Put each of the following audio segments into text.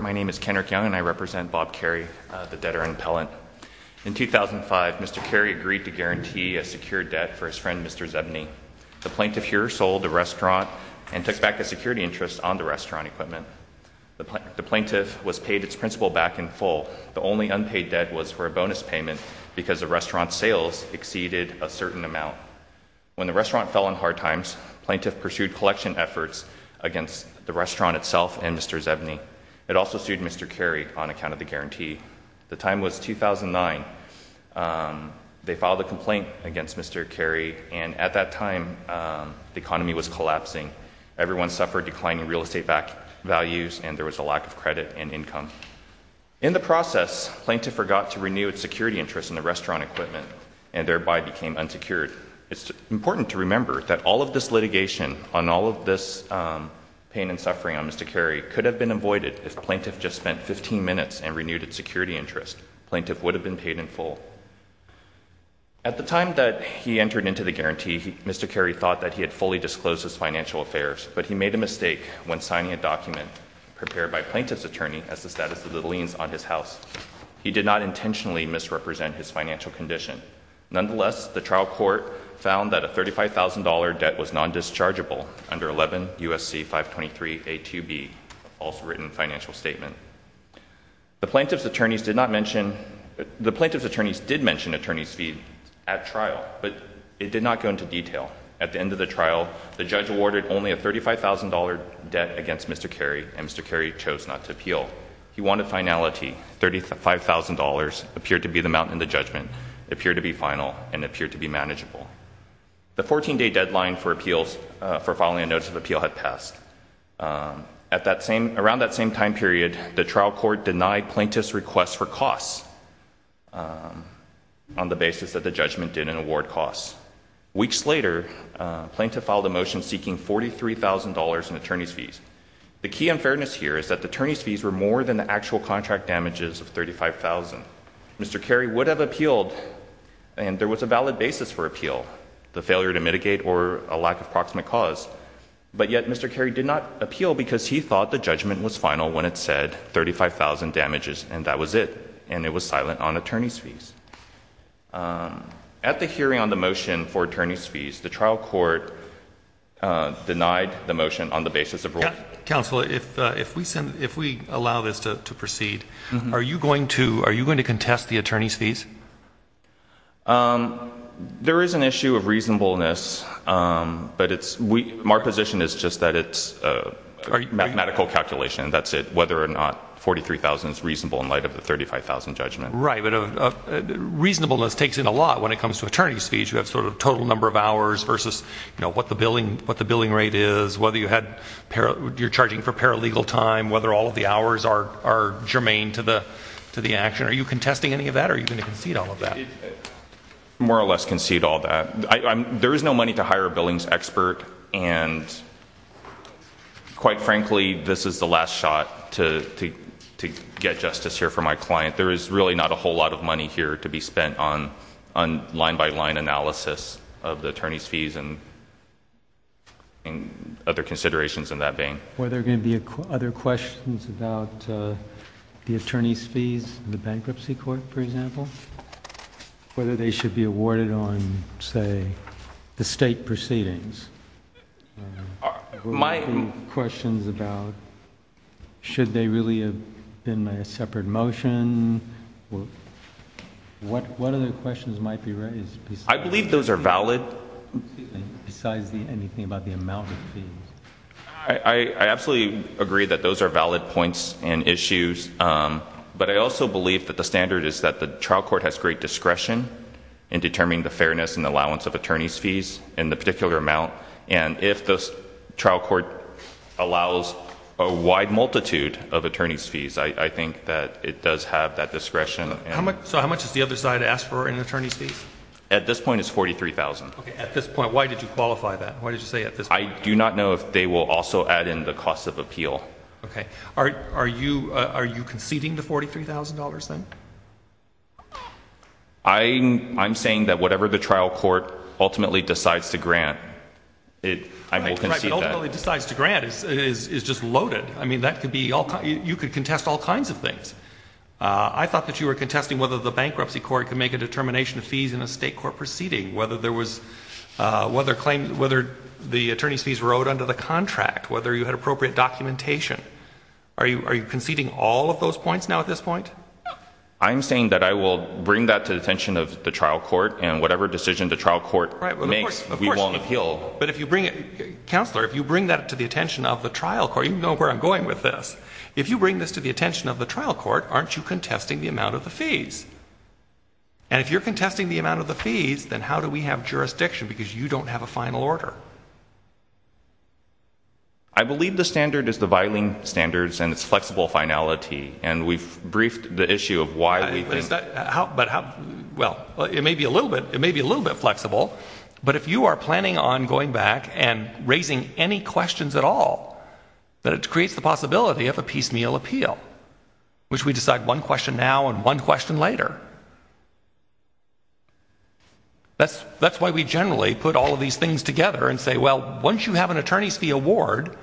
My name is Kendrick Young and I represent Bob Carey, the debtor and appellant. In 2005, Mr. Carey agreed to guarantee a secure debt for his friend, Mr. Zebny. The plaintiff here sold the restaurant and took back the security interest on the restaurant equipment. The plaintiff was paid its principal back in full. The only unpaid debt was for a bonus payment because the restaurant's sales exceeded a certain amount. When the restaurant fell on hard times, plaintiff pursued collection efforts against the restaurant itself and Mr. Zebny. It also sued Mr. Carey on account of the guarantee. The time was 2009. They filed a complaint against Mr. Carey and at that time the economy was collapsing. Everyone suffered declining real estate values and there was a lack of credit and income. In the process, plaintiff forgot to renew its security interest in the restaurant equipment and thereby became unsecured. It's important to remember that all of this litigation on all of this pain and suffering on Mr. Carey could have been avoided if the plaintiff just spent 15 minutes and renewed its security interest. The plaintiff would have been paid in full. At the time that he entered into the guarantee, Mr. Carey thought that he had fully disclosed his financial affairs, but he made a mistake when signing a document prepared by the plaintiff's attorney as the status of the liens on his house. He did not intentionally misrepresent his financial condition. Nonetheless, the trial court found that a $35,000 debt was non-dischargeable under 11 U.S.C. 523A2B, a false written financial statement. The plaintiff's attorneys did mention attorney's fees at trial, but it did not go into detail. At the end of the trial, the judge awarded only a $35,000 debt against Mr. Carey and Mr. Carey chose not to appeal. He wanted finality. $35,000 appeared to be the amount in the judgment, appeared to be final, and appeared to be manageable. The 14-day deadline for filing a notice of appeal had passed. Around that same time period, the trial court denied plaintiff's request for costs on the basis that the judgment did not award costs. Weeks later, the plaintiff filed a motion seeking $43,000 in attorney's fees. The key unfairness here is that the attorney's fees were more than the actual contract damages of $35,000. Mr. Carey would have appealed, and there was a valid basis for appeal, the failure to mitigate or a lack of proximate cause, but yet Mr. Carey did not appeal because he thought the judgment was final when it said $35,000 damages, and that was it, and it was silent on attorney's fees. At the hearing on the motion for attorney's fees, the trial court denied the motion on the basis of rule. Counsel, if we allow this to proceed, are you going to contest the attorney's fees? There is an issue of reasonableness, but our position is just that it's a mathematical calculation. That's it, whether or not $43,000 is reasonable in light of the $35,000 judgment. Right, but reasonableness takes in a lot when it comes to attorney's fees. You have sort of total number of hours versus what the billing rate is, whether you're charging for paralegal time, whether all of the hours are germane to the action. Are you contesting any of that, or are you going to concede all of that? More or less concede all of that. There is no money to hire a billings expert, and quite frankly, this is the last shot to get justice here for my client. In fact, there is really not a whole lot of money here to be spent on line-by-line analysis of the attorney's fees and other considerations in that vein. Were there going to be other questions about the attorney's fees in the bankruptcy court, for example? Whether they should be awarded on, say, the state proceedings? Were there going to be questions about should they really have been a separate motion? What other questions might be raised? I believe those are valid. Besides anything about the amount of fees? I absolutely agree that those are valid points and issues, but I also believe that the standard is that the trial court has great discretion in determining the fairness and allowance of attorney's fees in the particular amount, and if the trial court allows a wide multitude of attorney's fees, I think that it does have that discretion. So how much does the other side ask for in attorney's fees? At this point, it's $43,000. At this point, why did you qualify that? I do not know if they will also add in the cost of appeal. Are you conceding the $43,000 then? I'm saying that whatever the trial court ultimately decides to grant, I will concede that. Right, but ultimately decides to grant is just loaded. I mean, you could contest all kinds of things. I thought that you were contesting whether the bankruptcy court could make a determination of fees in a state court proceeding, whether the attorney's fees were owed under the contract, whether you had appropriate documentation. Are you conceding all of those points now at this point? I'm saying that I will bring that to the attention of the trial court, and whatever decision the trial court makes, we won't appeal. But if you bring it, counselor, if you bring that to the attention of the trial court, you know where I'm going with this. If you bring this to the attention of the trial court, aren't you contesting the amount of the fees? And if you're contesting the amount of the fees, then how do we have jurisdiction because you don't have a final order? I believe the standard is the Viling Standards and its flexible finality, and we've briefed the issue of why we think... Well, it may be a little bit flexible, but if you are planning on going back and raising any questions at all, then it creates the possibility of a piecemeal appeal, which we decide one question now and one question later. That's why we generally put all of these things together and say, well, once you have an attorney's fee award,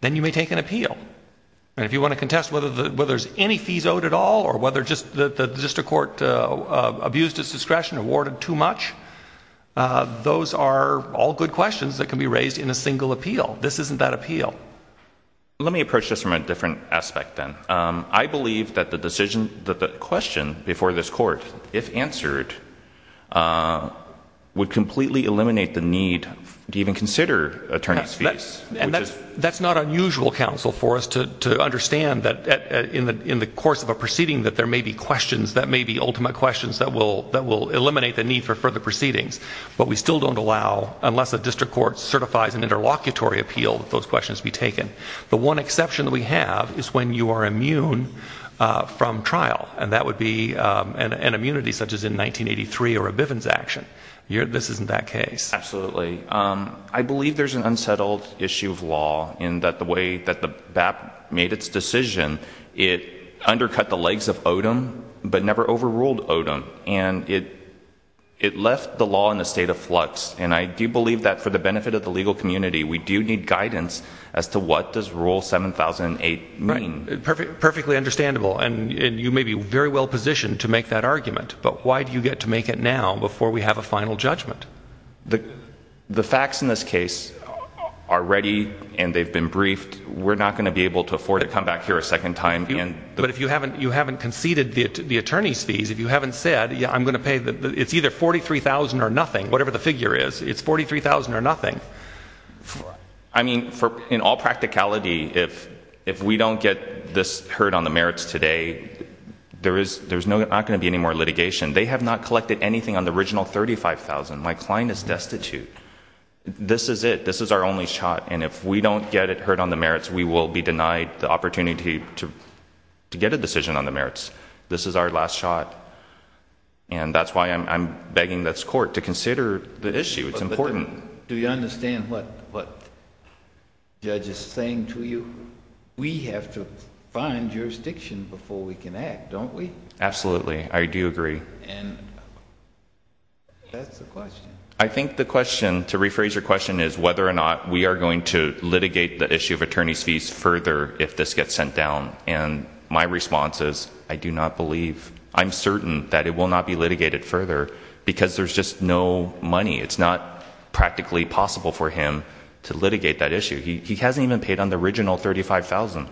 then you may take an appeal. And if you want to contest whether there's any fees owed at all or whether just the district court abused its discretion, awarded too much, those are all good questions that can be raised in a single appeal. This isn't that appeal. Let me approach this from a different aspect then. I believe that the question before this court, if answered, would completely eliminate the need to even consider attorney's fees. And that's not unusual, counsel, for us to understand that in the course of a proceeding that there may be questions, that may be ultimate questions that will eliminate the need for further proceedings. But we still don't allow, unless a district court certifies an interlocutory appeal, that those questions be taken. The one exception that we have is when you are immune from trial. And that would be an immunity such as in 1983 or a Bivens action. This isn't that case. Absolutely. I believe there's an unsettled issue of law in that the way that the BAP made its decision, it undercut the legs of Odom but never overruled Odom. And it left the law in a state of flux. And I do believe that for the benefit of the legal community, we do need guidance as to what does Rule 7008 mean. Perfectly understandable. And you may be very well positioned to make that argument. But why do you get to make it now before we have a final judgment? The facts in this case are ready and they've been briefed. We're not going to be able to afford to come back here a second time. But if you haven't conceded the attorney's fees, if you haven't said, it's either $43,000 or nothing, whatever the figure is, it's $43,000 or nothing. I mean, in all practicality, if we don't get this heard on the merits today, there's not going to be any more litigation. They have not collected anything on the original $35,000. My client is destitute. This is it. This is our only shot. And if we don't get it heard on the merits, we will be denied the opportunity to get a decision on the merits. This is our last shot. And that's why I'm begging this court to consider the issue. It's important. Do you understand what the judge is saying to you? We have to find jurisdiction before we can act, don't we? Absolutely. I do agree. And that's the question. I think the question, to rephrase your question, is whether or not we are going to litigate the issue of attorney's fees further if this gets sent down. And my response is I do not believe, I'm certain that it will not be litigated further because there's just no money. It's not practically possible for him to litigate that issue. He hasn't even paid on the original $35,000.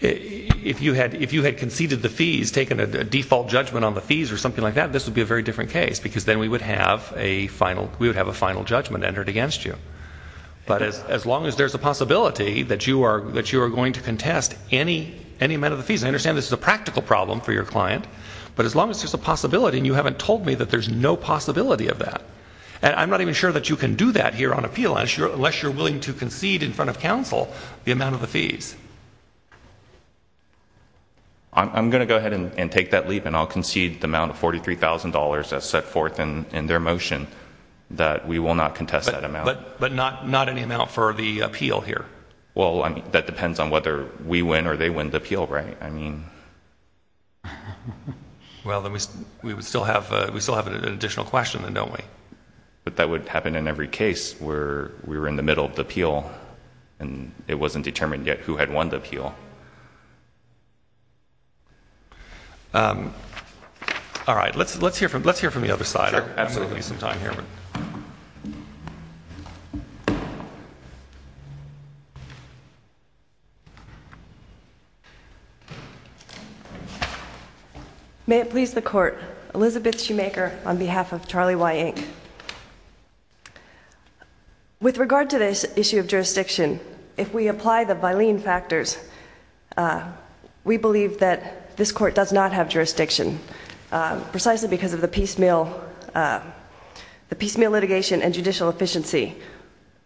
If you had conceded the fees, taken a default judgment on the fees or something like that, this would be a very different case because then we would have a final judgment entered against you. But as long as there's a possibility that you are going to contest any amount of the fees, and I understand this is a practical problem for your client, but as long as there's a possibility and you haven't told me that there's no possibility of that, and I'm not even sure that you can do that here on appeal unless you're willing to concede in front of counsel the amount of the fees. I'm going to go ahead and take that leap and I'll concede the amount of $43,000 that's set forth in their motion that we will not contest that amount. But not any amount for the appeal here. Well, that depends on whether we win or they win the appeal, right? Well, then we still have an additional question then, don't we? But that would happen in every case where we were in the middle of the appeal and it wasn't determined yet who had won the appeal. All right. Let's hear from the other side. We are absolutely going to need some time here. May it please the Court. Elizabeth Schumacher on behalf of Charlie Y. Inc. With regard to this issue of jurisdiction, if we apply the Bilene factors, we believe that this Court does not have jurisdiction precisely because of the piecemeal litigation and judicial efficiency.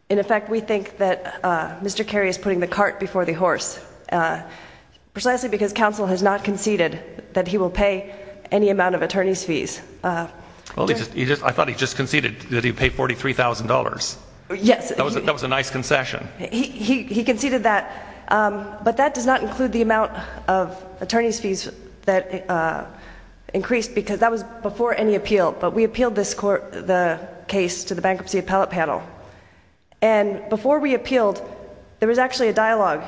In effect, we think that Mr. Kerry is putting the cart before the horse, precisely because counsel has not conceded that he will pay any amount of attorney's fees. I thought he just conceded that he would pay $43,000. Yes. That was a nice concession. He conceded that, but that does not include the amount of attorney's fees that increased, because that was before any appeal. But we appealed the case to the Bankruptcy Appellate Panel. And before we appealed, there was actually a dialogue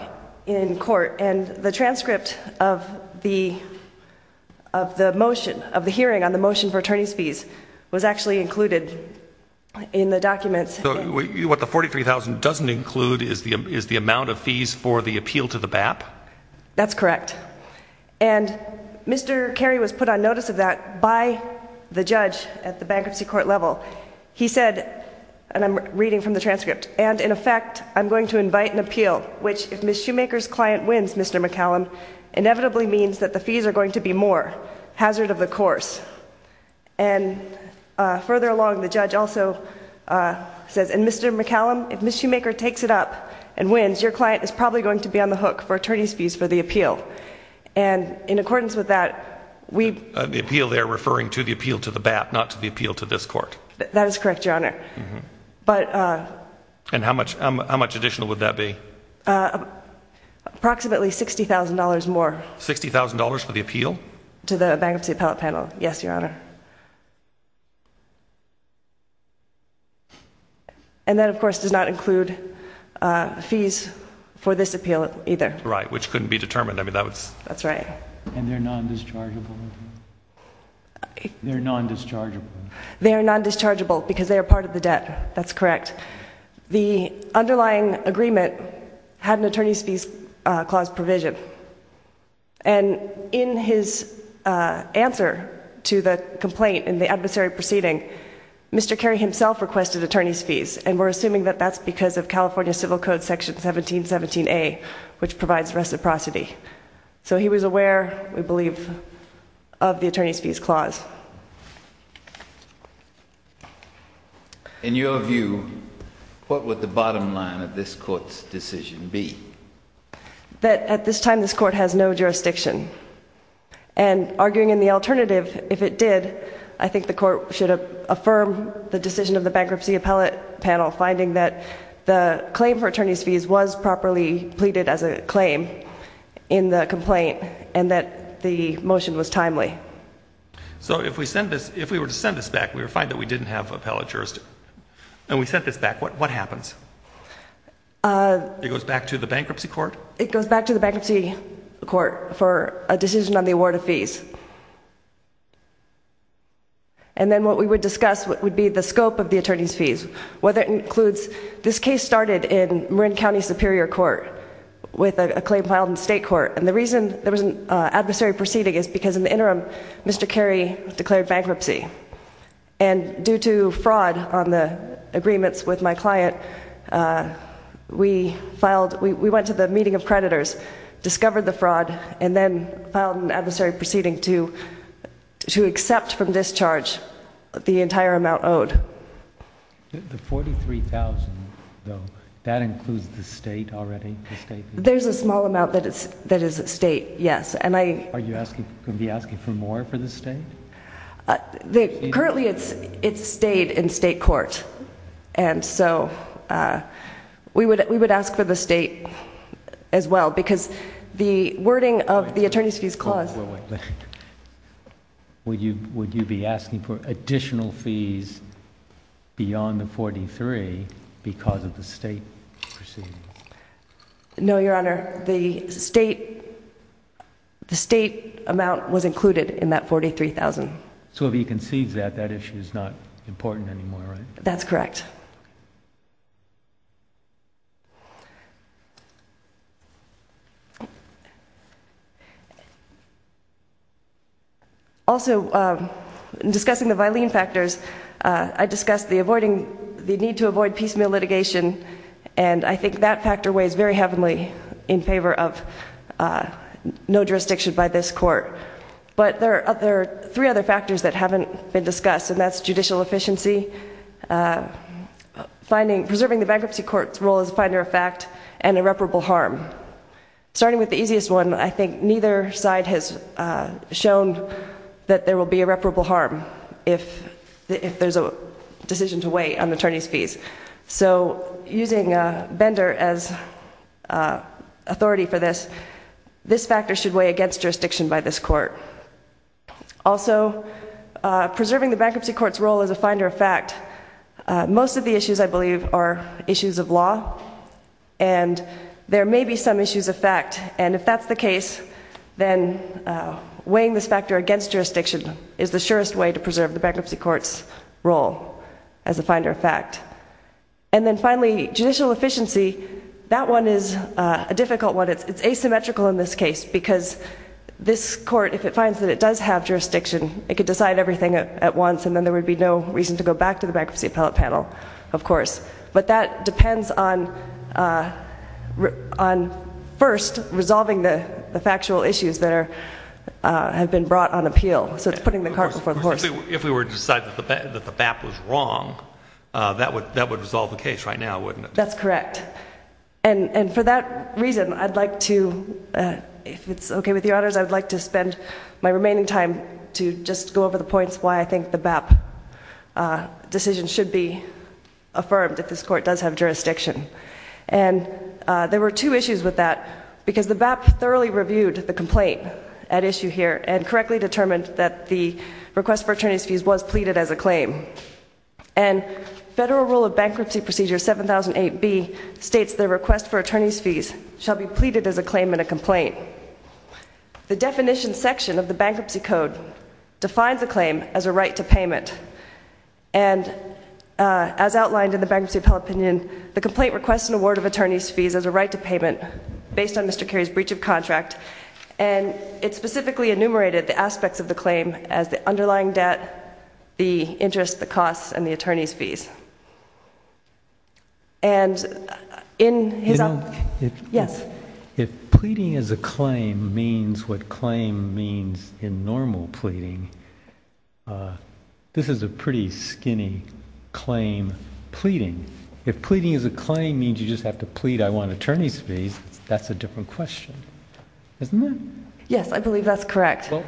in court, and the transcript of the motion, of the hearing on the motion for attorney's fees, was actually included in the documents. So what the $43,000 doesn't include is the amount of fees for the appeal to the BAP? That's correct. And Mr. Kerry was put on notice of that by the judge at the Bankruptcy Court level. He said, and I'm reading from the transcript, and in effect, I'm going to invite an appeal, which, if Ms. Schumacher's client wins, Mr. McCallum, inevitably means that the fees are going to be more, hazard of the course. And further along, the judge also says, and Mr. McCallum, if Ms. Schumacher takes it up and wins, your client is probably going to be on the hook for attorney's fees for the appeal. And in accordance with that, we— The appeal there referring to the appeal to the BAP, not to the appeal to this court. That is correct, Your Honor. And how much additional would that be? Approximately $60,000 more. $60,000 for the appeal? To the bankruptcy appellate panel. Yes, Your Honor. And that, of course, does not include fees for this appeal either. Right, which couldn't be determined. I mean, that would— That's right. And they're non-dischargeable? They're non-dischargeable. They are non-dischargeable because they are part of the debt. That's correct. The underlying agreement had an attorney's fees clause provision. And in his answer to the complaint in the adversary proceeding, Mr. Kerry himself requested attorney's fees, and we're assuming that that's because of California Civil Code Section 1717A, which provides reciprocity. So he was aware, we believe, of the attorney's fees clause. In your view, what would the bottom line of this court's decision be? That at this time this court has no jurisdiction. And arguing in the alternative, if it did, I think the court should affirm the decision of the bankruptcy appellate panel finding that the claim for attorney's fees was properly pleaded as a claim in the complaint, and that the motion was timely. So if we were to send this back, we would find that we didn't have appellate jurisdiction. And we sent this back, what happens? It goes back to the bankruptcy court? It goes back to the bankruptcy court for a decision on the award of fees. And then what we would discuss would be the scope of the attorney's fees, whether it includes this case started in Marin County Superior Court with a claim filed in the state court. And the reason there was an adversary proceeding is because in the interim, Mr. Kerry declared bankruptcy. And due to fraud on the agreements with my client, we went to the meeting of creditors, discovered the fraud, and then filed an adversary proceeding to accept from this charge the entire amount owed. The $43,000, though, that includes the state already? There's a small amount that is state, yes. Are you going to be asking for more for the state? Currently it's state in state court. And so we would ask for the state as well because the wording of the attorney's fees clause. Would you be asking for additional fees beyond the $43,000 because of the state proceeding? No, Your Honor. The state amount was included in that $43,000. So if he concedes that, that issue is not important anymore, right? That's correct. Also, in discussing the violin factors, I discussed the need to avoid piecemeal litigation, and I think that factor weighs very heavily in favor of no jurisdiction by this court. But there are three other factors that haven't been discussed, and that's judicial efficiency, preserving the bankruptcy court's role as a finder of fact, and irreparable harm. Starting with the easiest one, I think neither side has shown that there will be irreparable harm if there's a decision to weigh on the attorney's fees. So using Bender as authority for this, this factor should weigh against jurisdiction by this court. Also, preserving the bankruptcy court's role as a finder of fact, most of the issues, I believe, are issues of law, and there may be some issues of fact. And if that's the case, then weighing this factor against jurisdiction is the surest way to preserve the bankruptcy court's role as a finder of fact. And then finally, judicial efficiency, that one is a difficult one. It's asymmetrical in this case, because this court, if it finds that it does have jurisdiction, it could decide everything at once, and then there would be no reason to go back to the bankruptcy appellate panel, of course. But that depends on first resolving the factual issues that have been brought on appeal. So it's putting the cart before the horse. If we were to decide that the BAP was wrong, that would resolve the case right now, wouldn't it? That's correct. And for that reason, I'd like to, if it's okay with your honors, I would like to spend my remaining time to just go over the points why I think the BAP decision should be affirmed, if this court does have jurisdiction. And there were two issues with that, because the BAP thoroughly reviewed the complaint at issue here and correctly determined that the request for attorney's fees was pleaded as a claim. And Federal Rule of Bankruptcy Procedure 7008B states that a request for attorney's fees shall be pleaded as a claim in a complaint. The definition section of the bankruptcy code defines a claim as a right to payment. And as outlined in the bankruptcy appellate opinion, the complaint requests an award of attorney's fees as a right to payment, based on Mr. Carey's breach of contract. And it specifically enumerated the aspects of the claim as the underlying debt, the interest, the costs, and the attorney's fees. And in his op- You know, if pleading as a claim means what claim means in normal pleading, this is a pretty skinny claim pleading. If pleading as a claim means you just have to plead, I want attorney's fees, that's a different question. Isn't it? Yes, I believe that's correct. So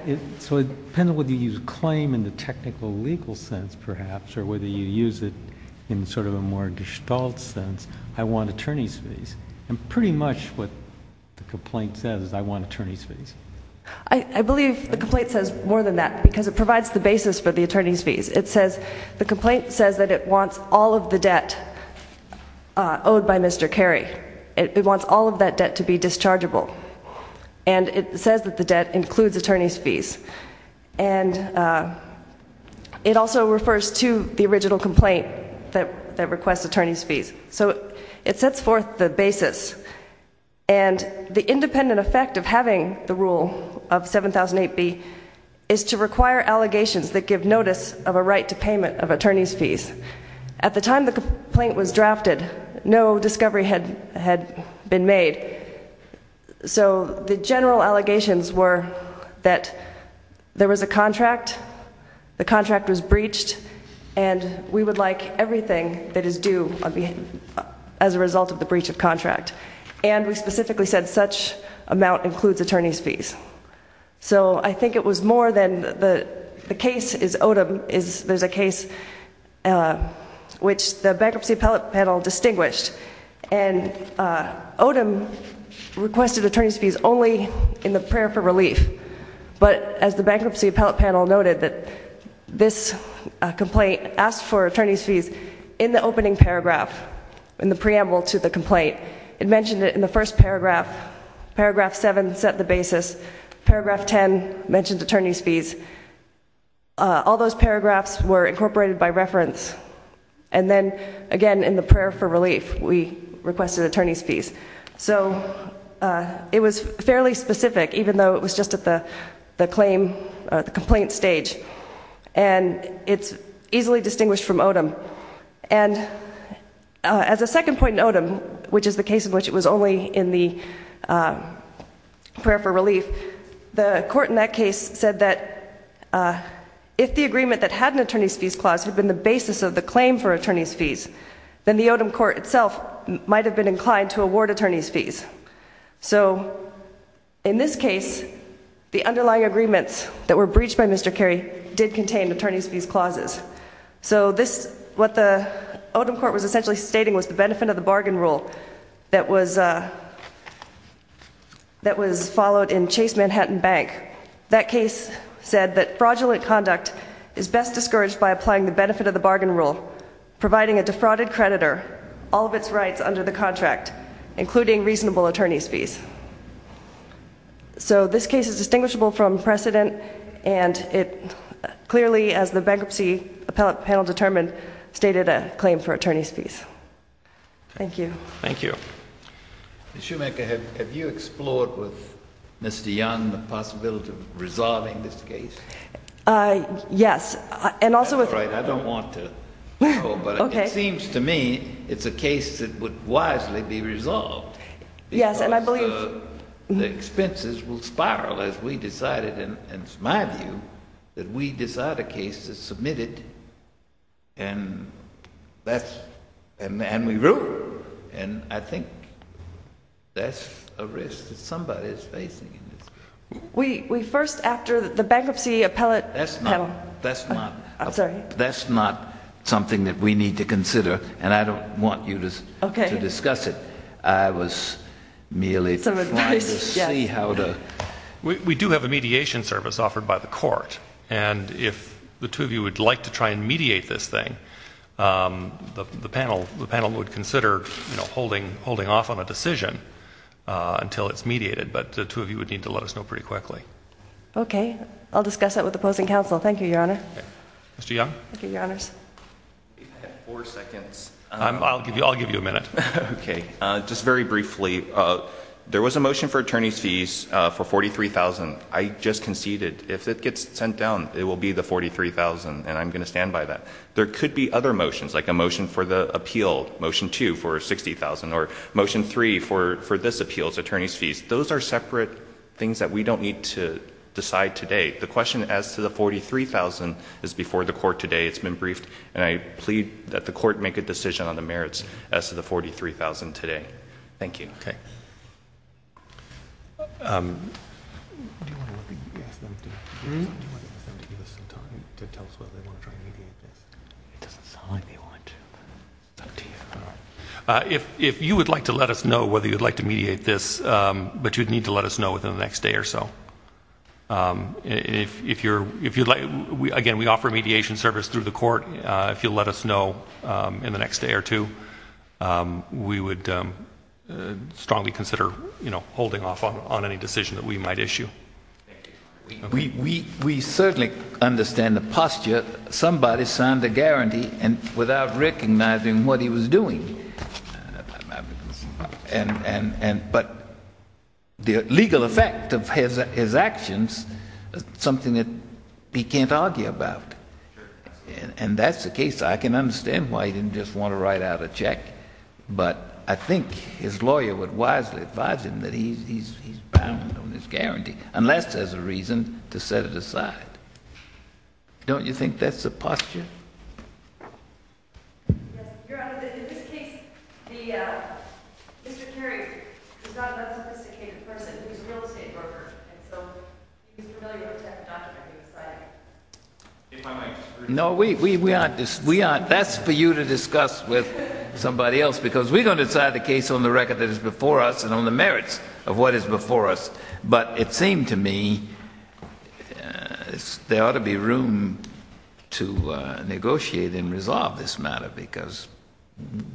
it depends on whether you use claim in the technical legal sense, perhaps, or whether you use it in sort of a more gestalt sense, I want attorney's fees. And pretty much what the complaint says is I want attorney's fees. I believe the complaint says more than that, because it provides the basis for the attorney's fees. It says the complaint says that it wants all of the debt owed by Mr. Carey. It wants all of that debt to be dischargeable. And it says that the debt includes attorney's fees. And it also refers to the original complaint that requests attorney's fees. So it sets forth the basis. And the independent effect of having the rule of 7008B is to require allegations that give notice of a right to payment of attorney's fees. At the time the complaint was drafted, no discovery had been made. So the general allegations were that there was a contract, the contract was breached, and we would like everything that is due as a result of the breach of contract. And we specifically said such amount includes attorney's fees. So I think it was more than the case is Odom. There's a case which the bankruptcy appellate panel distinguished. And Odom requested attorney's fees only in the prayer for relief. But as the bankruptcy appellate panel noted, this complaint asked for attorney's fees in the opening paragraph, in the preamble to the complaint. It mentioned it in the first paragraph. Paragraph 7 set the basis. Paragraph 10 mentioned attorney's fees. All those paragraphs were incorporated by reference. And then, again, in the prayer for relief, we requested attorney's fees. So it was fairly specific, even though it was just at the complaint stage. And it's easily distinguished from Odom. And as a second point in Odom, which is the case in which it was only in the prayer for relief, the court in that case said that if the agreement that had an attorney's fees clause had been the basis of the claim for attorney's fees, then the Odom court itself might have been inclined to award attorney's fees. So in this case, the underlying agreements that were breached by Mr. Carey did contain attorney's fees clauses. So what the Odom court was essentially stating was the benefit of the bargain rule that was followed in Chase Manhattan Bank. That case said that fraudulent conduct is best discouraged by applying the benefit of the bargain rule, providing a defrauded creditor all of its rights under the contract, including reasonable attorney's fees. So this case is distinguishable from precedent. And it clearly, as the bankruptcy panel determined, stated a claim for attorney's fees. Thank you. Thank you. Ms. Schumacher, have you explored with Mr. Young the possibility of resolving this case? Yes. That's all right. I don't want to. But it seems to me it's a case that would wisely be resolved because the expenses will spiral as we decided, and it's my view, that we decide a case that's submitted and we rule. And I think that's a risk that somebody is facing. We first, after the bankruptcy appellate panel. That's not something that we need to consider, and I don't want you to discuss it. I was merely trying to see how to. We do have a mediation service offered by the court, and if the two of you would like to try and mediate this thing, the panel would consider holding off on a decision until it's mediated. But the two of you would need to let us know pretty quickly. Okay. I'll discuss that with opposing counsel. Thank you, Your Honor. Mr. Young? Thank you, Your Honors. I have four seconds. I'll give you a minute. Okay. Just very briefly, there was a motion for attorney's fees for $43,000. I just conceded. If it gets sent down, it will be the $43,000, and I'm going to stand by that. There could be other motions, like a motion for the appeal, motion two for $60,000, or motion three for this appeal, attorney's fees. Those are separate things that we don't need to decide today. The question as to the $43,000 is before the court today. It's been briefed, and I plead that the court make a decision on the merits as to the $43,000 today. Thank you. Okay. If you would like to let us know whether you would like to mediate this, but you would need to let us know within the next day or so. Again, we offer mediation service through the court. If you'll let us know in the next day or two, we would strongly consider, you know, holding off on any decision that we might issue. We certainly understand the posture. Somebody signed a guarantee without recognizing what he was doing. But the legal effect of his actions is something that he can't argue about. And that's the case. I can understand why he didn't just want to write out a check, but I think his lawyer would wisely advise him that he's bound on this guarantee, unless there's a reason to set it aside. Don't you think that's the posture? Yes. Your Honor, in this case, Mr. Carey is not an unsophisticated person who's a real estate broker, and so he's familiar with the technology of deciding. No, we aren't. That's for you to discuss with somebody else, because we don't decide the case on the record that is before us and on the merits of what is before us. But it seemed to me there ought to be room to negotiate and resolve this matter, because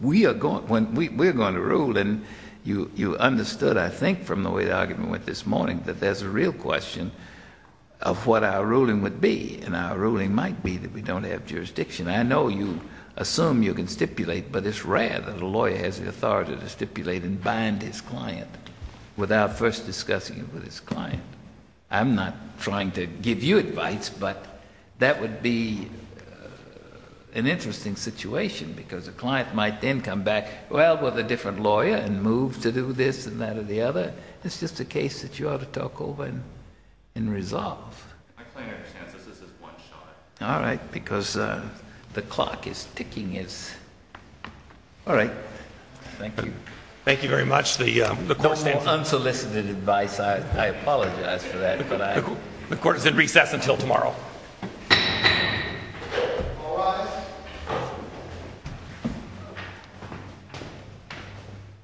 we are going to rule, and you understood, I think, from the way the argument went this morning, that there's a real question of what our ruling would be, and our ruling might be that we don't have jurisdiction. I know you assume you can stipulate, but it's rare that a lawyer has the authority to stipulate and bind his client without first discussing it with his client. I'm not trying to give you advice, but that would be an interesting situation, because a client might then come back, well, with a different lawyer, and move to do this and that or the other. It's just a case that you ought to talk over and resolve. My client understands that this is one shot. All right, because the clock is ticking. All right. Thank you. Thank you very much. The court stands adjourned. No more unsolicited advice. I apologize for that. The court is in recess until tomorrow.